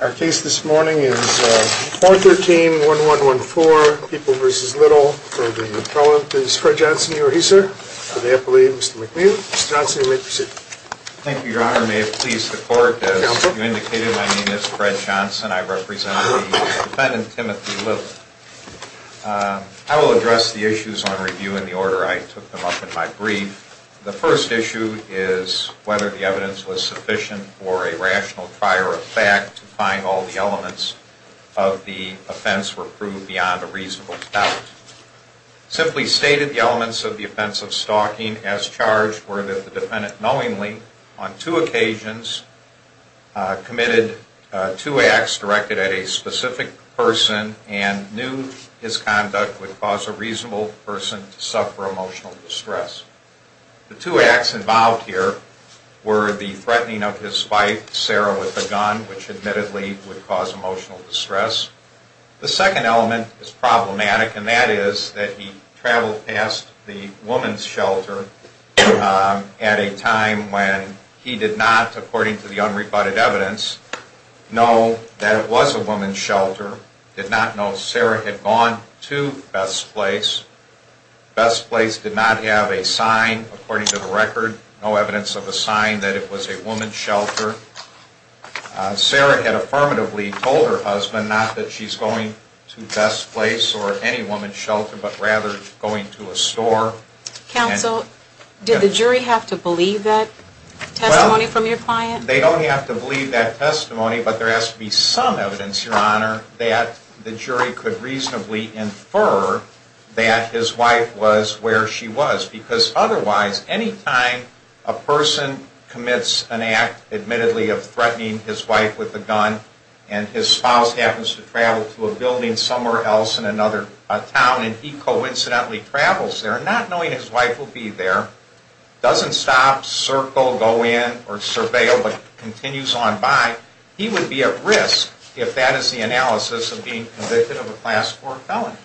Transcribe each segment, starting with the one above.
Our case this morning is 413-1114, People v. Little. For the appellant is Fred Johnson. You are here, sir, for the appellate, Mr. McNeil. Mr. Johnson, you may proceed. Thank you, Your Honor. May it please the Court, as you indicated, my name is Fred Johnson. I represent the defendant, Timothy Little. I will address the issues on review in the order I took them up in my brief. The first issue is whether the evidence was sufficient for a rational prior effect to find all the elements of the offense were proved beyond a reasonable doubt. Simply stated, the elements of the offense of stalking as charged were that the defendant knowingly, on two occasions, committed two acts directed at a specific person and knew his conduct would cause a reasonable person to suffer emotional distress. The two acts involved here were the threatening of his wife, Sarah, with a gun, which admittedly would cause emotional distress. The second element is problematic, and that is that he traveled past the woman's shelter at a time when he did not, according to the unrebutted evidence, know that it was a woman's shelter, did not know Sarah had gone to Best Place. Best Place did not have a sign, according to the record, no evidence of a sign that it was a woman's shelter. Sarah had affirmatively told her husband not that she's going to Best Place or any woman's shelter, but rather going to a store. Counsel, did the jury have to believe that testimony from your client? They don't have to believe that testimony, but there has to be some evidence, Your Honor, that the jury could reasonably infer that his wife was where she was. Because otherwise, any time a person commits an act, admittedly, of threatening his wife with a gun, and his spouse happens to travel to a building somewhere else in another town, and he coincidentally travels there, not knowing his wife will be there, doesn't stop, circle, go in, or surveil, but continues on by, he would be at risk if that is the analysis of being convicted of a class 4 felony.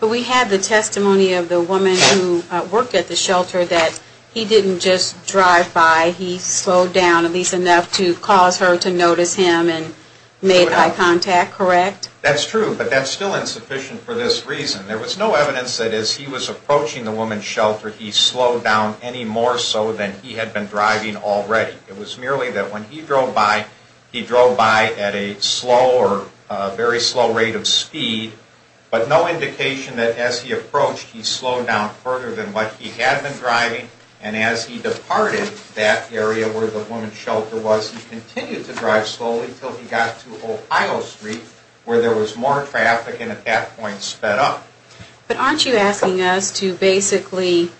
But we had the testimony of the woman who worked at the shelter that he didn't just drive by, he slowed down at least enough to cause her to notice him and made eye contact, correct? That's true, but that's still insufficient for this reason. There was no evidence that as he was approaching the woman's shelter, he slowed down any more so than he had been driving already. It was merely that when he drove by, he drove by at a slow or very slow rate of speed, but no indication that as he approached, he slowed down further than what he had been driving, and as he departed that area where the woman's shelter was, he continued to drive slowly until he got to Ohio Street where there was more traffic and at that point sped up. But aren't you asking us to basically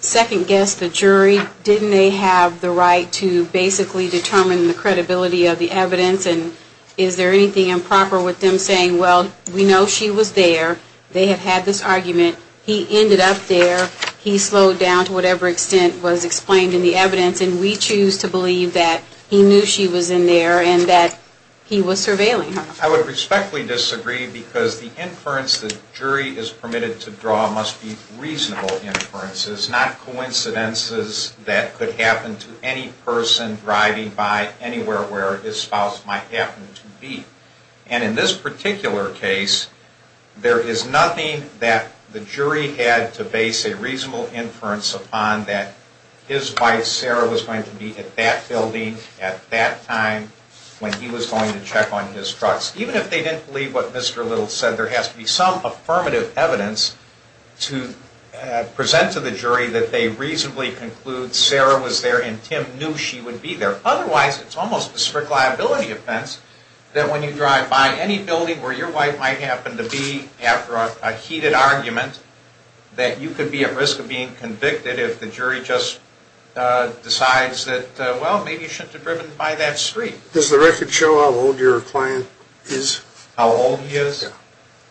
second guess the jury? Didn't they have the right to basically determine the credibility of the evidence, and is there anything improper with them saying, well, we know she was there, they had had this argument, he ended up there, he slowed down to whatever extent was explained in the evidence, and we choose to believe that he knew she was in there and that he was surveilling her? I would respectfully disagree because the inference the jury is permitted to draw must be reasonable inferences, not coincidences that could happen to any person driving by anywhere where his spouse might happen to be. And in this particular case, there is nothing that the jury had to base a reasonable inference upon that his wife Sarah was going to be at that time when he was going to check on his trucks. Even if they didn't believe what Mr. Little said, there has to be some affirmative evidence to present to the jury that they reasonably conclude Sarah was there and Tim knew she would be there. Otherwise, it's almost a strict liability offense that when you drive by any building where your wife might happen to be after a heated argument, that you could be at risk of being convicted if the jury just Does the record show how old your client is? How old he is?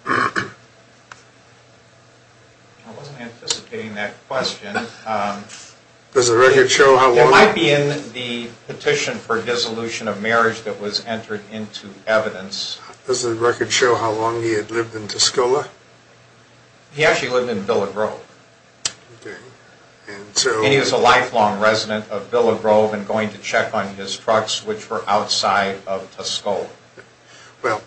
I wasn't anticipating that question. Does the record show how long? It might be in the petition for dissolution of marriage that was entered into evidence. Does the record show how long he had lived in Tuscola? He actually lived in Villa Grove. Okay. And so? He was a lifelong resident of Villa Grove and going to check on his trucks, which were outside of Tuscola. Well,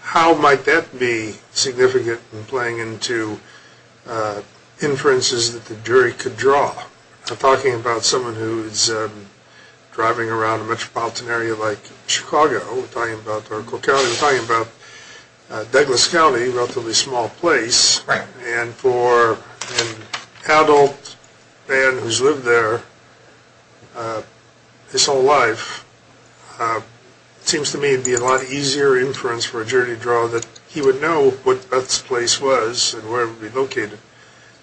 how might that be significant in playing into inferences that the jury could draw? I'm talking about someone who's driving around a metropolitan area like Chicago. We're talking about Oracle County. We're talking about Douglas County, a relatively small place. Right. And for an adult man who's lived there his whole life, it seems to me it would be a lot easier inference for a jury to draw that he would know what Beth's place was and where it would be located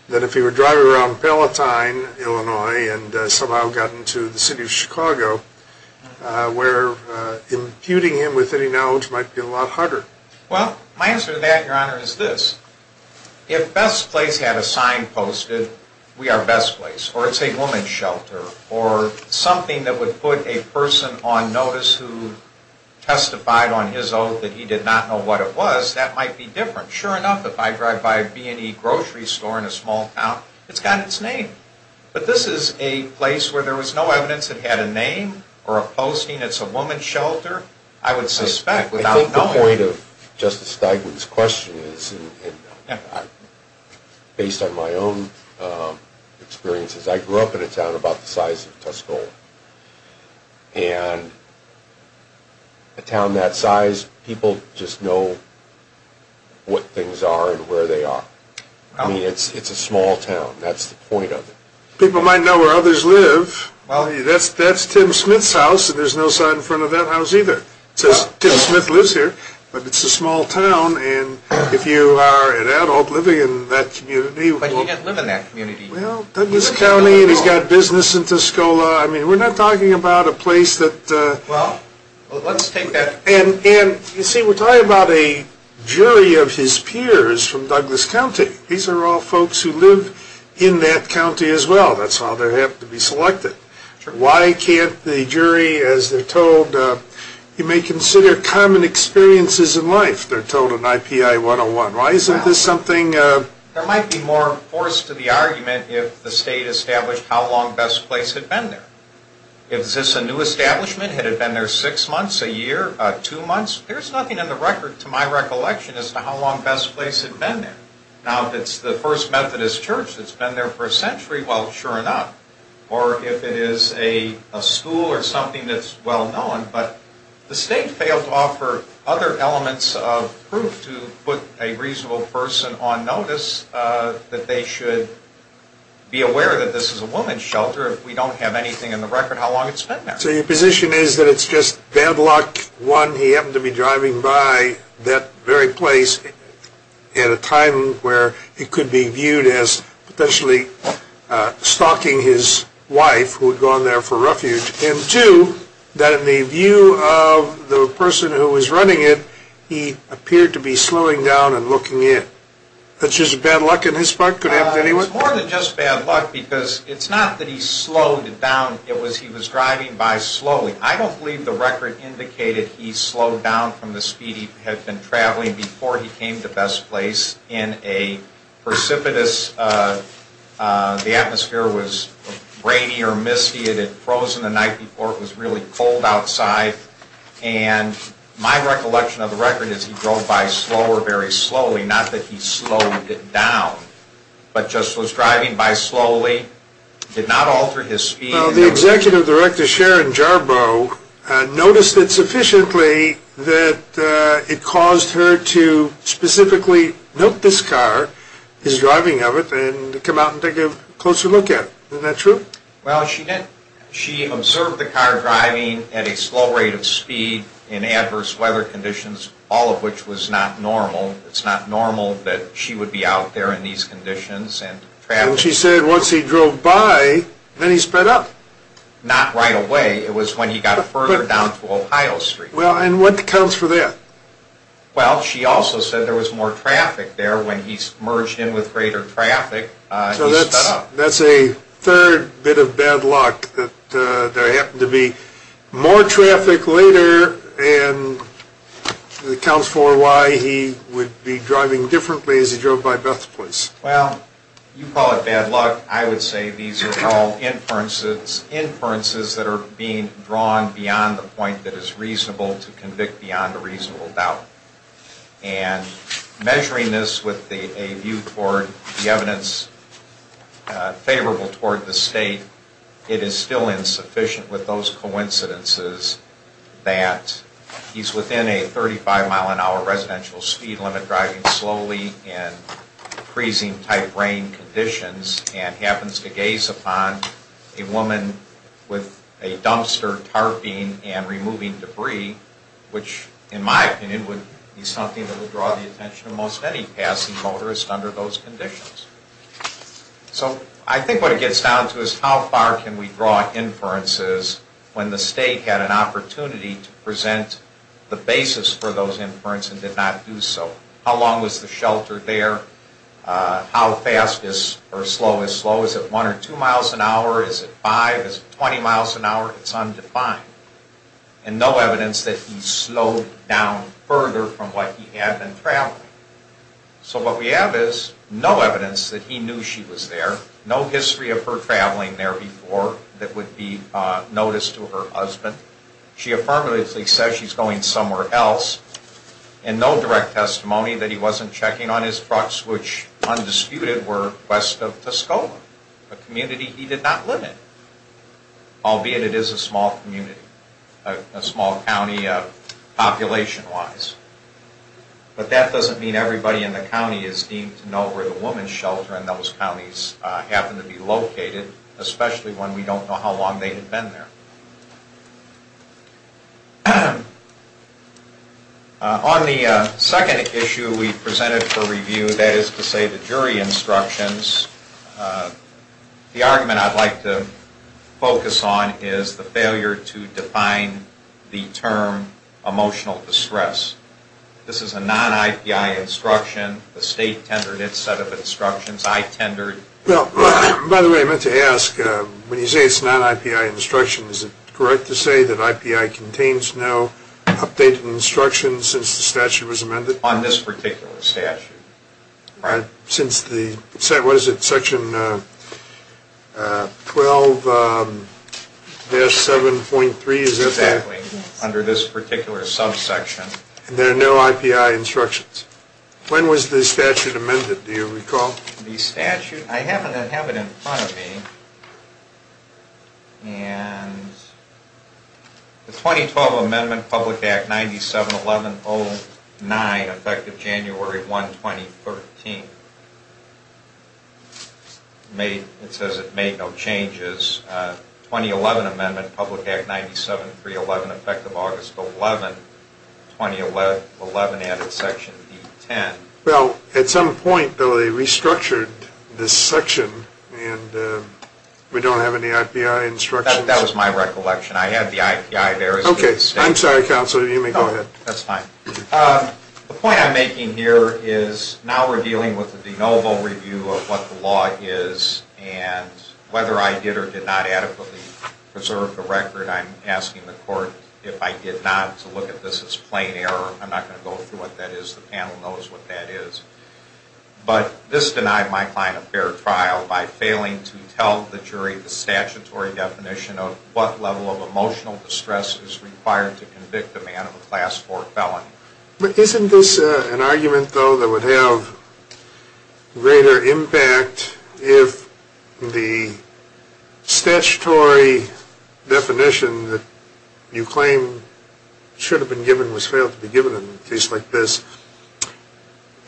than if he were driving around Palatine, Illinois, and somehow got into the city of Chicago, where imputing him with any knowledge might be a lot harder. Well, my answer to that, Your Honor, is this. If Beth's place had a sign posted, we are Beth's place. Or it's a woman's shelter. Or something that would put a person on notice who testified on his oath that he did not know what it was, that might be different. Sure enough, if I drive by a B&E grocery store in a small town, it's got its name. But this is a place where there was no evidence it had a name or a posting. It's a woman's shelter. I would suspect, without knowing. I think the point of Justice Steigman's question is, based on my own experiences, I grew up in a town about the size of Tuscola. And a town that size, people just know what things are and where they are. I mean, it's a small town. That's the point of it. People might know where others live. Well, that's Tim Smith's house, and there's no sign in front of that house either. It says, Tim Smith lives here. But it's a small town, and if you are an adult living in that community... But you didn't live in that community. Well, Douglas County, and he's got business in Tuscola. I mean, we're not talking about a place that... Well, let's take that... And, you see, we're talking about a jury of his peers from Douglas County. These are all folks who live in that county as well. That's how they have to be selected. Why can't the jury, as they're told... You may consider common experiences in life, they're told in IPI 101. Why isn't this something... There might be more force to the argument if the state established how long Best Place had been there. If this a new establishment, had it been there six months, a year, two months... There's nothing in the record, to my recollection, as to how long Best Place had been there. Now, if it's the First Methodist Church that's been there for a century, well, sure enough. Or if it is a school or something that's well known. But the state failed to offer other elements of proof to put a reasonable person on notice that they should be aware that this is a woman's shelter. If we don't have anything in the record, how long it's been there. So your position is that it's just bad luck, one, he happened to be driving by that very place at a time where it could be viewed as potentially stalking his wife, who had gone there for refuge. And two, that in the view of the person who was running it, he appeared to be slowing down and looking in. That's just bad luck in his part? Could it happen to anyone? It's more than just bad luck, because it's not that he slowed down. It was he was driving by slowly. I don't believe the record indicated he slowed down from the speed he had been traveling before he came to Best Place in a precipitous, the atmosphere was rainy or misty. It had frozen the night before. It was really cold outside. And my recollection of the record is he drove by slower, very slowly. Not that he slowed down, but just was driving by slowly, did not alter his speed. The executive director, Sharon Jarboe, noticed it sufficiently that it caused her to specifically note this car, his driving of it, and come out and take a closer look at it. Isn't that true? Well, she did. She observed the car driving at a slow rate of speed in adverse weather conditions, all of which was not normal. It's not normal that she would be out there in these conditions and traveling. And she said once he drove by, then he sped up. Not right away. It was when he got further down to Ohio Street. Well, and what accounts for that? Well, she also said there was more traffic there. When he merged in with greater traffic, he sped up. So that's a third bit of bad luck, that there happened to be more traffic later, and accounts for why he would be driving differently as he drove by Best Place. Well, you call it bad luck. I would say these are all inferences that are being drawn beyond the point that is reasonable to convict beyond a reasonable doubt. And measuring this with a view toward the evidence favorable toward the state, it is still insufficient with those coincidences that he's within a 35-mile-an-hour residential speed limit, driving slowly in freezing-type rain conditions, and happens to gaze upon a woman with a dumpster tarping and removing debris, which, in my opinion, would be something that would draw the attention of most any passing motorist under those conditions. So I think what it gets down to is how far can we draw inferences when the state had an opportunity to present the basis for those inference and did not do so. How long was the shelter there? How fast or slow is slow? Is it 1 or 2 miles an hour? Is it 5? Is it 20 miles an hour? It's undefined. And no evidence that he slowed down further from what he had been traveling. So what we have is no evidence that he knew she was there, no history of her traveling there before that would be noticed to her husband. She affirmatively says she's going somewhere else, and no direct testimony that he wasn't checking on his trucks, which, undisputed, were west of Tuscola, a community he did not live in, albeit it is a small community, a small county population-wise. But that doesn't mean everybody in the county is deemed to know where the woman's shelter in those counties happened to be located, especially when we don't know how long they had been there. On the second issue we presented for review, that is to say the jury instructions, the argument I'd like to focus on is the failure to define the term emotional distress. This is a non-IPI instruction. The state tendered its set of instructions. I tendered. Well, by the way, I meant to ask, when you say it's non-IPI instruction, is it correct to say that IPI contains no updated instructions since the statute was amended? On this particular statute. Since the, what is it, section 12-7.3, is that that? Exactly, under this particular subsection. And there are no IPI instructions. When was the statute amended, do you recall? The statute, I have it in front of me. And the 2012 Amendment, Public Act 97-1109, effective January 1, 2013. It says it made no changes. 2011 Amendment, Public Act 97-311, effective August 11, 2011, added section D-10. Well, at some point, though, they restructured this section and we don't have any IPI instructions? That was my recollection. I had the IPI there. Okay. I'm sorry, Counselor, you may go ahead. That's fine. The point I'm making here is now we're dealing with the de novo review of what the law is and whether I did or did not adequately preserve the record. I'm asking the court if I did not to look at this as plain error. I'm not going to go through what that is. The panel knows what that is. But this denied my client a fair trial by failing to tell the jury the statutory definition of what level of emotional distress is required to convict a man of a Class IV felony. Isn't this an argument, though, that would have greater impact if the statutory definition that you claim should have been given in a case like this,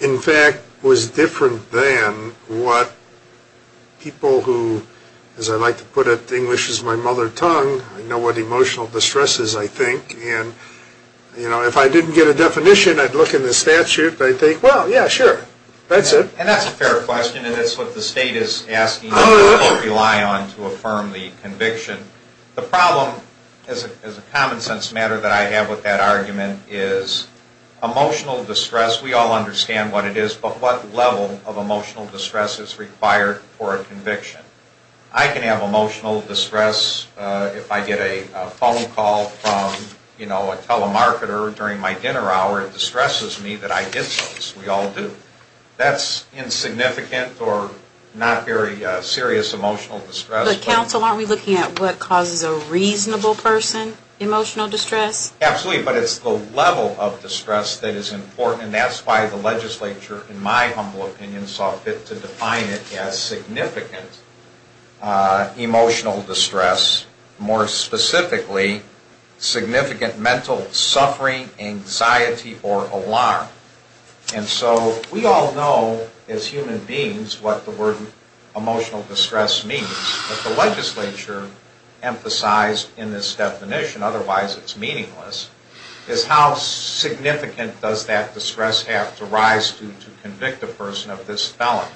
in fact, was different than what people who, as I like to put it, English is my mother tongue. I know what emotional distress is, I think. And, you know, if I didn't get a definition, I'd look in the statute, but I'd think, well, yeah, sure, that's it. And that's a fair question, and that's what the State is asking you to rely on to affirm the conviction. The problem, as a common sense matter that I have with that argument, is emotional distress, we all understand what it is, but what level of emotional distress is required for a conviction. I can have emotional distress if I get a phone call from, you know, a telemarketer during my dinner hour. It distresses me that I did so, as we all do. That's insignificant or not very serious emotional distress. But, counsel, aren't we looking at what causes a reasonable person emotional distress? Absolutely, but it's the level of distress that is important, and that's why the legislature, in my humble opinion, saw fit to define it as significant emotional distress, more specifically significant mental suffering, anxiety, or alarm. And so we all know, as human beings, what the word emotional distress means, but the legislature emphasized in this definition, otherwise it's meaningless, is how significant does that distress have to rise to convict a person of this felony.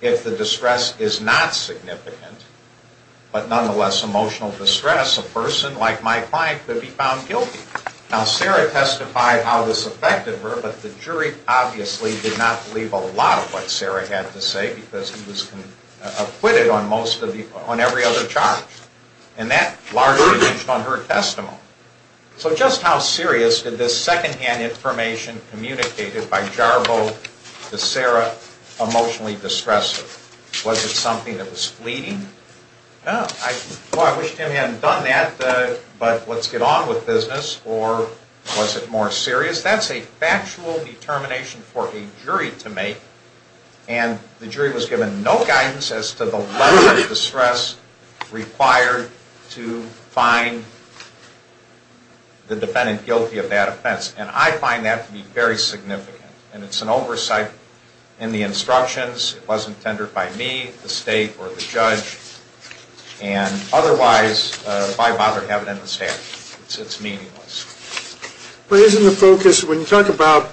If the distress is not significant, but nonetheless emotional distress, a person like my client could be found guilty. Now, Sarah testified how this affected her, but the jury obviously did not believe a lot of what Sarah had to say because he was acquitted on every other charge. And that largely changed on her testimony. So just how serious did this second-hand information communicated by Jarbo to Sarah emotionally distress her? Was it something that was fleeting? Well, I wish Tim hadn't done that, but let's get on with business. Or was it more serious? That's a factual determination for a jury to make, and the jury was given no guidance as to the level of distress required to find the defendant guilty of that offense, and I find that to be very significant. And it's an oversight in the instructions. It wasn't tendered by me, the state, or the judge. And otherwise, why bother to have it in the statute? It's meaningless. But isn't the focus, when you talk about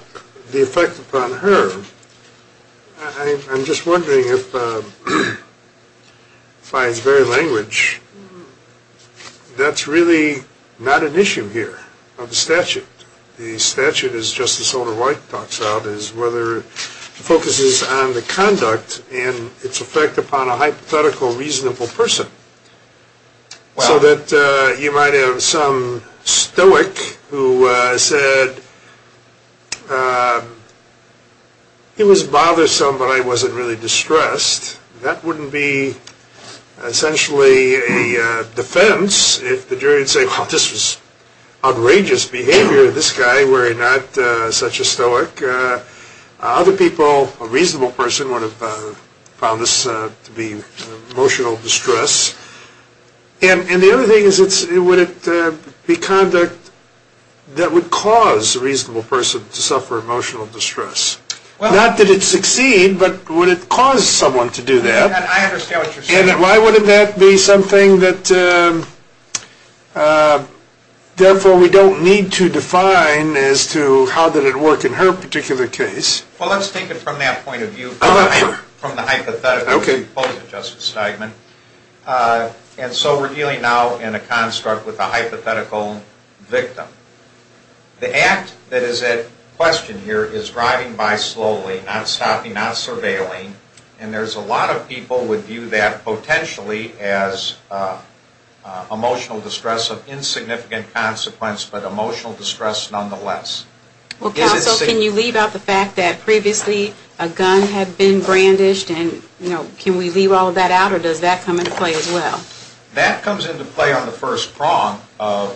the effect upon her, I'm just wondering if, by its very language, that's really not an issue here of the statute. The statute, as Justice Holder White talks about, is whether it focuses on the conduct and its effect upon a hypothetical, reasonable person. So that you might have some stoic who said, he was bothersome, but I wasn't really distressed. That wouldn't be essentially a defense if the jury would say, well, this was outrageous behavior. This guy were not such a stoic. Other people, a reasonable person, would have found this to be emotional distress. And the other thing is, would it be conduct that would cause a reasonable person to suffer emotional distress? Not that it'd succeed, but would it cause someone to do that? I understand what you're saying. And why wouldn't that be something that, therefore, we don't need to define as to how did it work in her particular case? Well, let's take it from that point of view, from the hypothetical as opposed to Justice Steigman. And so we're dealing now in a construct with a hypothetical victim. The act that is at question here is driving by slowly, not stopping, not surveilling. And there's a lot of people would view that potentially as emotional distress of insignificant consequence, but emotional distress nonetheless. Well, counsel, can you leave out the fact that previously a gun had been brandished? And, you know, can we leave all of that out? Or does that come into play as well? That comes into play on the first prong of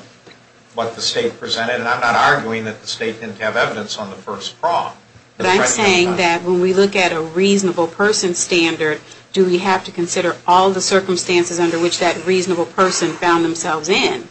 what the state presented. And I'm not arguing that the state didn't have evidence on the first prong. But I'm saying that when we look at a reasonable person standard, do we have to consider all the circumstances under which that reasonable person found themselves in?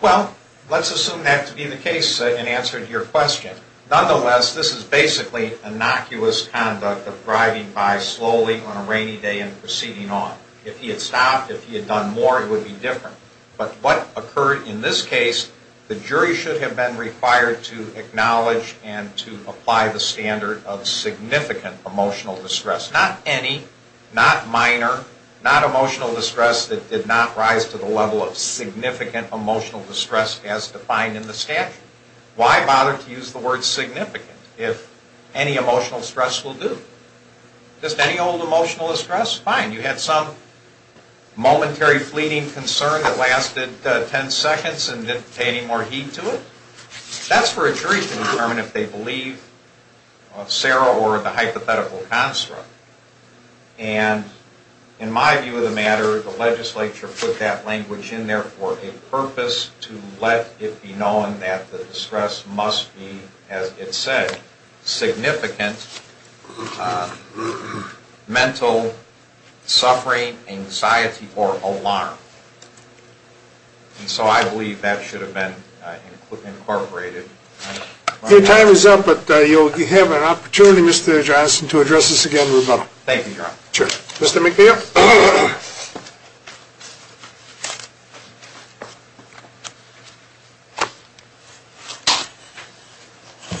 Well, let's assume that to be the case in answer to your question. Nonetheless, this is basically innocuous conduct of driving by slowly on a rainy day and proceeding on. If he had stopped, if he had done more, it would be different. But what occurred in this case, the jury should have been required to acknowledge and to apply the standard of significant emotional distress. Not any, not minor, not emotional distress that did not rise to the level of significant emotional distress as defined in the statute. Why bother to use the word significant if any emotional stress will do? Just any old emotional distress, fine. You had some momentary fleeting concern that lasted ten seconds and didn't pay any more heed to it. That's for a jury to determine if they believe Sarah or the hypothetical construct. And in my view of the matter, the legislature put that language in there for a purpose to let it be known that the distress must be, as it said, significant mental suffering, anxiety, or alarm. And so I believe that should have been incorporated. Your time is up, but you'll have an opportunity, Mr. Johnson, to address this again remotely. Thank you, Your Honor. Sure. Mr. McNeil? Yes, sir.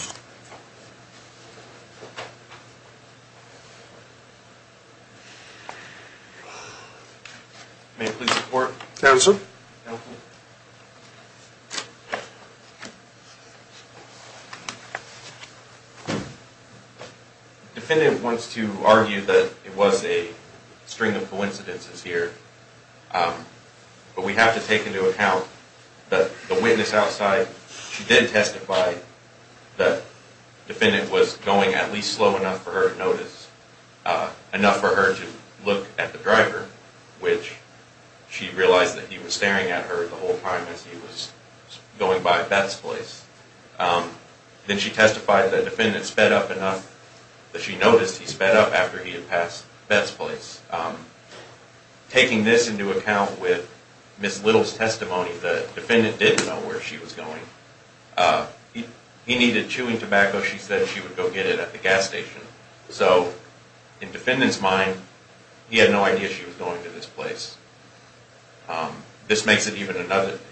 May I please report? Yes, sir. Counsel? The defendant wants to argue that it was a string of coincidences here, but we have to take into account that the witness outside, she did testify that the defendant was going at least slow enough for her to notice, enough for her to look at the driver, which she realized that he was staring at her the whole time as he was going by Beth's place. Then she testified that the defendant sped up enough that she noticed he sped up after he had passed Beth's place. Taking this into account with Ms. Little's testimony, the defendant didn't know where she was going. He needed chewing tobacco. She said she would go get it at the gas station. In the defendant's mind, he had no idea she was going to this place. This makes it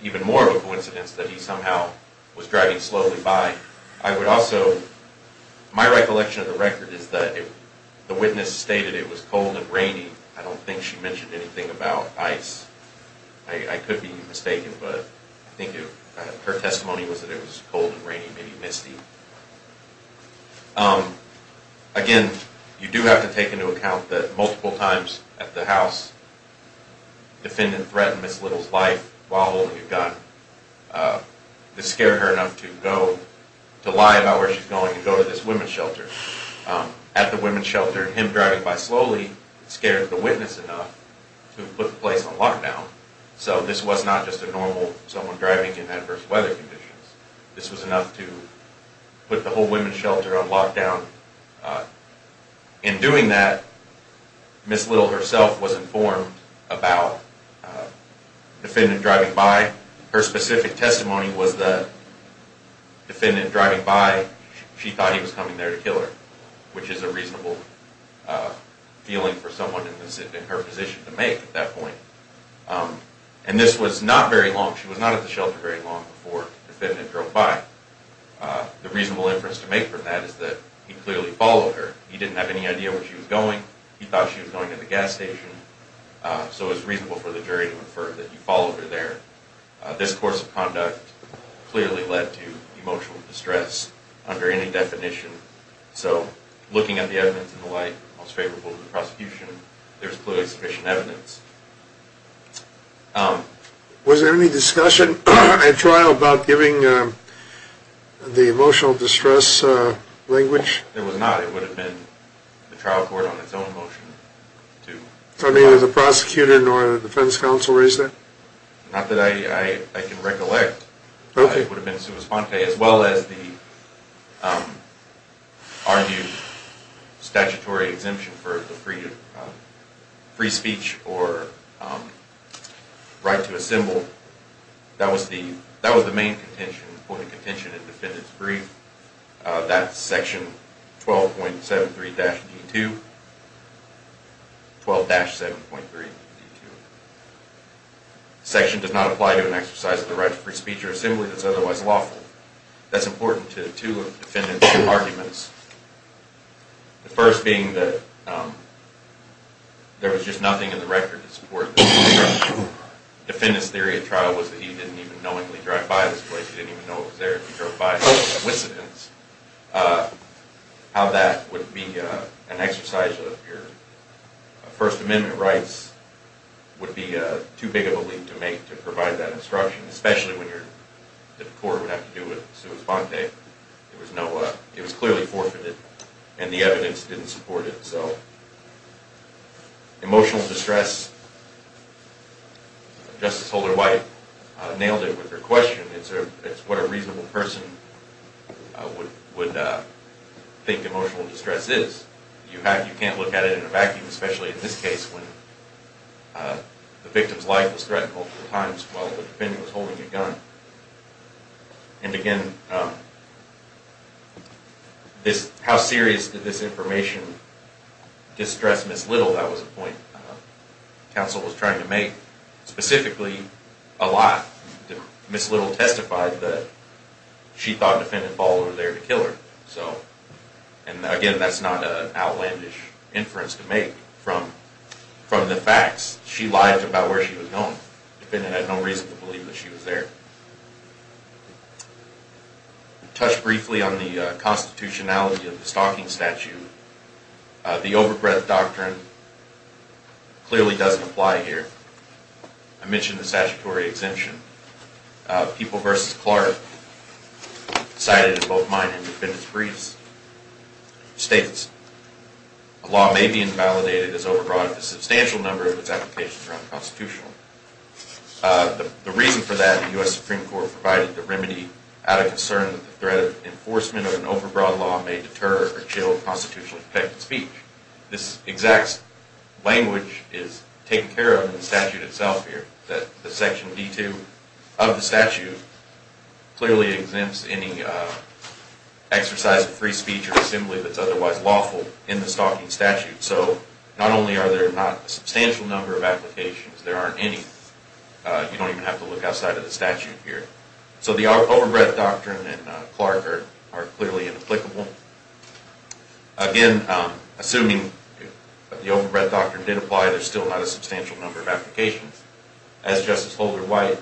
even more of a coincidence that he somehow was driving slowly by. My recollection of the record is that the witness stated it was cold and rainy. I don't think she mentioned anything about ice. I could be mistaken, but I think her testimony was that it was cold and rainy, maybe misty. Again, you do have to take into account that multiple times at the house, the defendant threatened Ms. Little's life while holding a gun. This scared her enough to lie about where she was going and go to this women's shelter. At the women's shelter, him driving by slowly scared the witness enough to put the place on lockdown. So this was not just a normal someone driving in adverse weather conditions. This was enough to put the whole women's shelter on lockdown. In doing that, Ms. Little herself was informed about the defendant driving by. Her specific testimony was the defendant driving by, she thought he was coming there to kill her, which is a reasonable feeling for someone in her position to make at that point. And this was not very long, she was not at the shelter very long before the defendant drove by. The reasonable inference to make from that is that he clearly followed her. He didn't have any idea where she was going. He thought she was going to the gas station. So it was reasonable for the jury to infer that he followed her there. This course of conduct clearly led to emotional distress under any definition. So looking at the evidence and the like, most favorable to the prosecution, there is clearly sufficient evidence. Was there any discussion at trial about giving the emotional distress language? There was not, it would have been the trial court on its own motion. So neither the prosecutor nor the defense counsel raised that? Not that I can recollect. It would have been Sua Sponte as well as the argued statutory exemption for the free speech or right to assemble. That was the main point of contention in the defendant's brief. That's section 12.73-D2. 12-7.3-D2. The section does not apply to an exercise of the right to free speech or assembly that is otherwise lawful. That's important to two of the defendant's arguments. The first being that there was just nothing in the record to support this. The defendant's theory at trial was that he didn't even knowingly drive by this place. He didn't even know it was there to drive by. How that would be an exercise of your First Amendment rights would be too big of a leap to make to provide that instruction. Especially when the court would have to do with Sua Sponte. It was clearly forfeited and the evidence didn't support it. Emotional distress, Justice Holder White nailed it with her question. It's what a reasonable person would think emotional distress is. You can't look at it in a vacuum, especially in this case when the victim's life was threatened multiple times while the defendant was holding a gun. And again, how serious did this information distress Ms. Little? That was a point the counsel was trying to make. Specifically, a lie. Ms. Little testified that she thought the defendant followed her there to kill her. Again, that's not an outlandish inference to make from the facts. She lied about where she was going. The defendant had no reason to believe that she was there. I'll touch briefly on the constitutionality of the stalking statute. The overbreadth doctrine clearly doesn't apply here. I mentioned the statutory exemption. People v. Clark cited in both mine and the defendant's briefs states, A law may be invalidated as overbroad if a substantial number of its applications are unconstitutional. The reason for that, the U.S. Supreme Court provided the remedy out of concern that the threat of enforcement of an overbroad law may deter or kill constitutionally protected speech. This exact language is taken care of in the statute itself here. The section B-2 of the statute clearly exempts any exercise of free speech or assembly that's otherwise lawful in the stalking statute. So not only are there not a substantial number of applications, there aren't any. You don't even have to look outside of the statute here. So the overbreadth doctrine and Clark are clearly inapplicable. Again, assuming the overbreadth doctrine did apply, there's still not a substantial number of applications. As Justice Holder White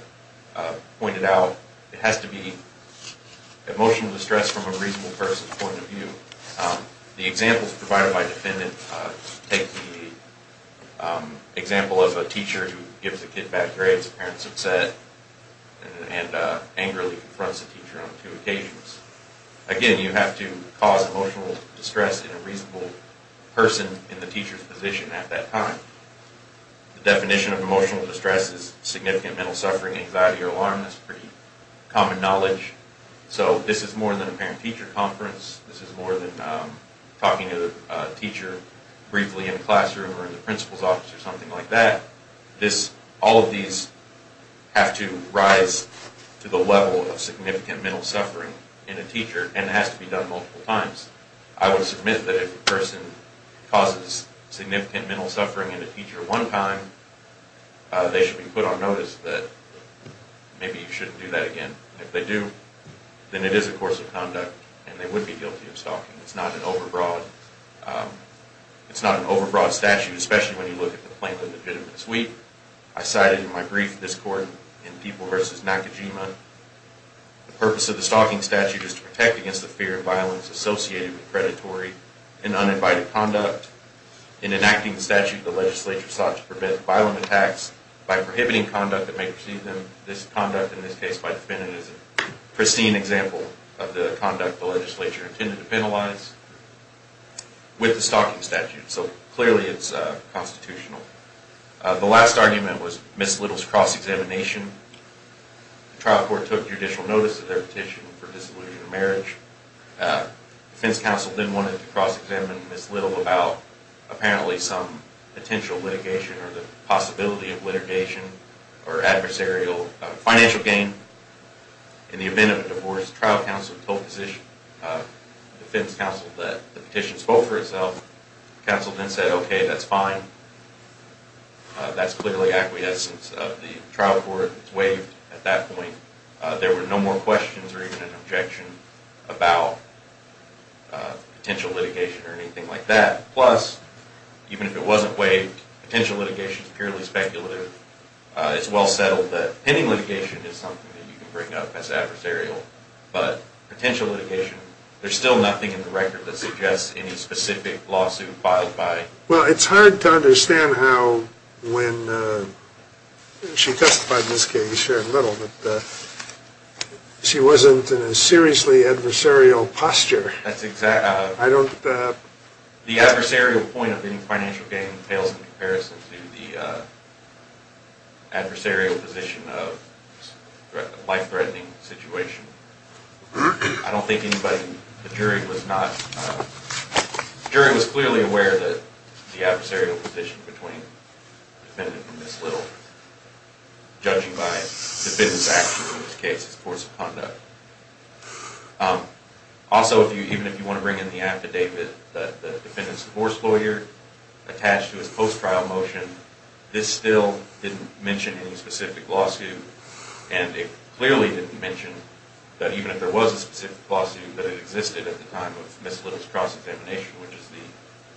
pointed out, it has to be emotional distress from a reasonable person's point of view. The examples provided by the defendant take the example of a teacher who gives a kid bad grades. The parent's upset and angrily confronts the teacher on two occasions. Again, you have to cause emotional distress in a reasonable person in the teacher's position at that time. The definition of emotional distress is significant mental suffering, anxiety, or alarm. That's pretty common knowledge. So this is more than a parent-teacher conference. This is more than talking to the teacher briefly in a classroom or in the principal's office or something like that. All of these have to rise to the level of significant mental suffering in a teacher and it has to be done multiple times. I would submit that if a person causes significant mental suffering in a teacher one time, they should be put on notice that maybe you shouldn't do that again. If they do, then it is a course of conduct and they would be guilty of stalking. It's not an over-broad statute, especially when you look at the plaintiff in this week. I cited in my brief this court in People v. Nakajima, the purpose of the stalking statute is to protect against the fear of violence associated with predatory and uninvited conduct. In enacting the statute, the legislature sought to prevent violent attacks by prohibiting conduct that may precede them. This conduct in this case by the defendant is a pristine example of the conduct the legislature intended to penalize with the stalking statute. So clearly it's constitutional. The last argument was Ms. Little's cross-examination. The trial court took judicial notice of their petition for dissolution of marriage. The defense counsel then wanted to cross-examine Ms. Little about apparently some potential litigation or the possibility of litigation or adversarial financial gain. In the event of a divorce, the trial counsel told the defense counsel that the petition spoke for itself. The counsel then said, okay, that's fine. That's clearly acquiescence of the trial court. At that point, there were no more questions or even an objection about potential litigation or anything like that. Plus, even if it wasn't waived, potential litigation is purely speculative. It's well settled that pending litigation is something that you can bring up as adversarial. But potential litigation, there's still nothing in the record that suggests any specific lawsuit filed by... Well, it's hard to understand how when she testified in this case, Sharon Little, that she wasn't in a seriously adversarial posture. That's exact... I don't... The adversarial point of any financial gain pales in comparison to the adversarial position of a life-threatening situation. I don't think anybody in the jury was not... aware of the adversarial position between the defendant and Ms. Little, judging by the defendant's action in this case, his course of conduct. Also, even if you want to bring in the affidavit that the defendant's divorce lawyer attached to his post-trial motion, this still didn't mention any specific lawsuit. And it clearly didn't mention that even if there was a specific lawsuit, that it existed at the time of Ms. Little's cross-examination, which is the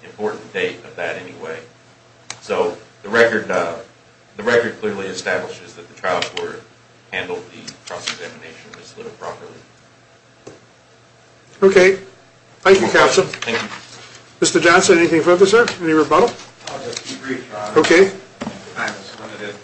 important date of that anyway. So the record clearly establishes that the trial court handled the cross-examination of Ms. Little properly. Okay. Thank you, counsel. Thank you. Mr. Johnson, anything further, sir? Any rebuttal? I'll just be brief, Your Honor. Okay. Time is limited.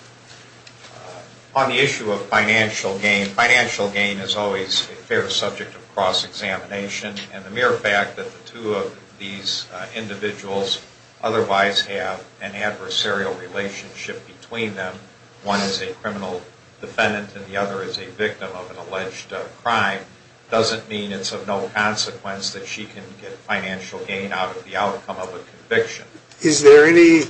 On the issue of financial gain, financial gain is always a fair subject of cross-examination. And the mere fact that the two of these individuals otherwise have an adversarial relationship between them, one is a criminal defendant and the other is a victim of an alleged crime, doesn't mean it's of no consequence that she can get financial gain out of the outcome of a conviction. Is there any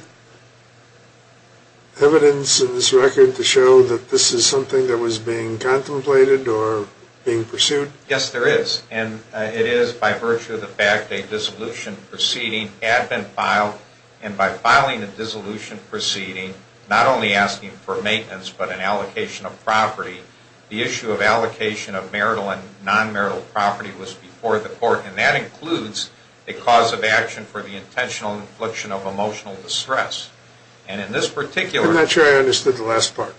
evidence in this record to show that this is something that was being contemplated or being pursued? Yes, there is. And it is by virtue of the fact a dissolution proceeding had been filed. And by filing a dissolution proceeding, not only asking for maintenance but an allocation of property, the issue of allocation of marital and non-marital property was before the court. And that includes a cause of action for the intentional infliction of emotional distress. And in this particular – I'm not sure I understood the last part.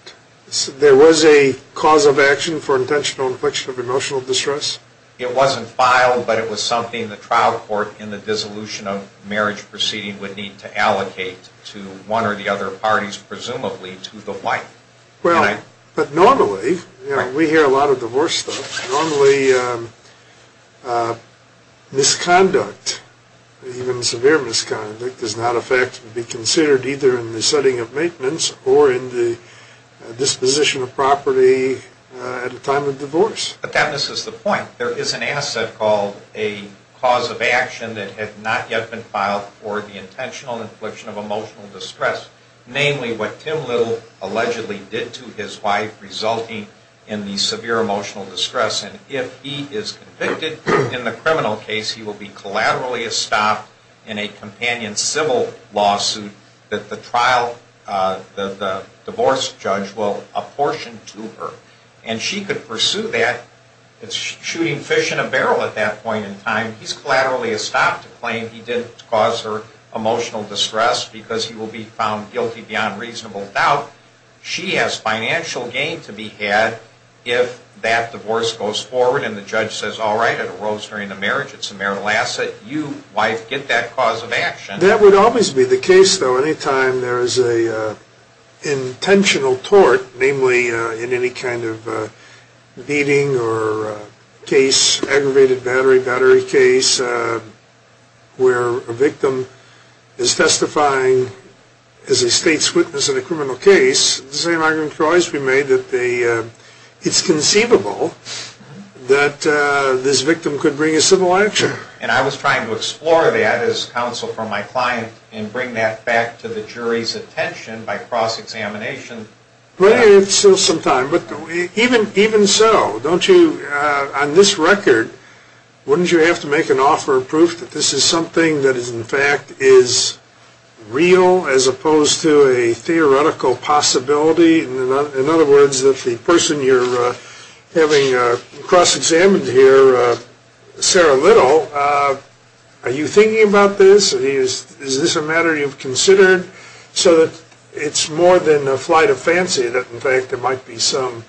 There was a cause of action for intentional infliction of emotional distress? It wasn't filed, but it was something the trial court in the dissolution of marriage proceeding would need to allocate to one or the other parties, presumably to the wife. Well, but normally, we hear a lot of divorce stuff. Normally, misconduct, even severe misconduct, does not affect to be considered either in the setting of maintenance or in the disposition of property at a time of divorce. But that misses the point. There is an asset called a cause of action that had not yet been filed for the intentional infliction of emotional distress, namely what Tim Little allegedly did to his wife resulting in the severe emotional distress. And if he is convicted in the criminal case, he will be collaterally estopped in a companion civil lawsuit that the trial – the divorce judge will apportion to her. And she could pursue that. It's shooting fish in a barrel at that point in time. He's collaterally estopped to claim he didn't cause her emotional distress because he will be found guilty beyond reasonable doubt. She has financial gain to be had if that divorce goes forward and the judge says, all right, it arose during the marriage. It's a marital asset. You, wife, get that cause of action. That would always be the case, though, any time there is an intentional tort, namely in any kind of beating or case, aggravated battery, battery case, where a victim is testifying as a state's witness in a criminal case, the same argument could always be made that it's conceivable that this victim could bring a civil action. And I was trying to explore that as counsel for my client and bring that back to the jury's attention by cross-examination. It's still some time. But even so, don't you, on this record, wouldn't you have to make an offer of proof that this is something that, in fact, is real as opposed to a theoretical possibility? In other words, that the person you're having cross-examined here, Sarah Little, are you thinking about this? Is this a matter you've considered so that it's more than a flight of fancy that, in fact, there might be some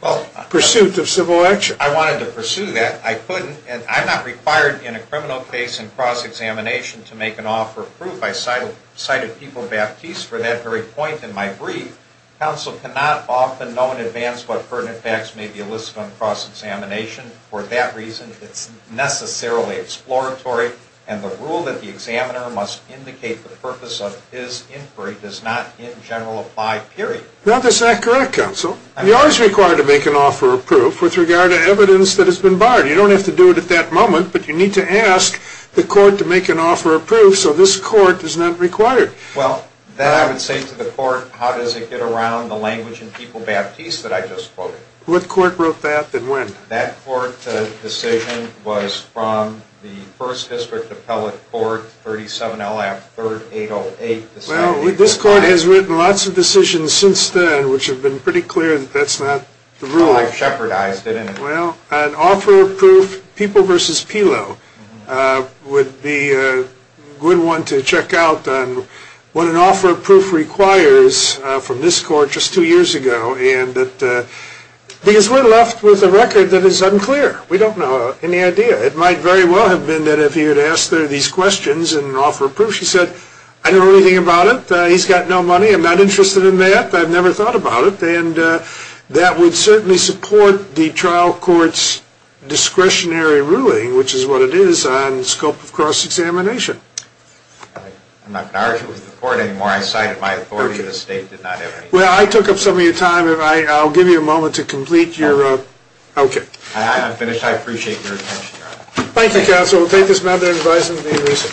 pursuit of civil action? I wanted to pursue that. I couldn't, and I'm not required in a criminal case in cross-examination to make an offer of proof. I cited People Baptiste for that very point in my brief. Counsel cannot often know in advance what pertinent facts may be elicited on cross-examination. For that reason, it's necessarily exploratory, and the rule that the examiner must indicate the purpose of his inquiry does not in general apply, period. Now, that's not correct, Counsel. You're always required to make an offer of proof with regard to evidence that has been barred. You don't have to do it at that moment, but you need to ask the court to make an offer of proof so this court is not required. Well, then I would say to the court, how does it get around the language in People Baptiste that I just quoted? What court wrote that and when? That court decision was from the First District Appellate Court, 37 L.A. 3rd 808. Well, this court has written lots of decisions since then which have been pretty clear that that's not the rule. Well, I've shepherdized it. Well, an offer of proof, People v. Pelo, would be a good one to check out on what an offer of proof requires from this court just two years ago, because we're left with a record that is unclear. We don't know any idea. It might very well have been that if he had asked these questions and offered proof, he said, I don't know anything about it. He's got no money. I'm not interested in that. I've never thought about it. And that would certainly support the trial court's discretionary ruling, which is what it is, on scope of cross-examination. I'm not going to argue with the court anymore. I cited my authority. The state did not have anything to say. Well, I took up some of your time. I'll give you a moment to complete your, okay. I'm finished. I appreciate your attention, Your Honor. Thank you, counsel. So we'll take this matter and advise him to be released.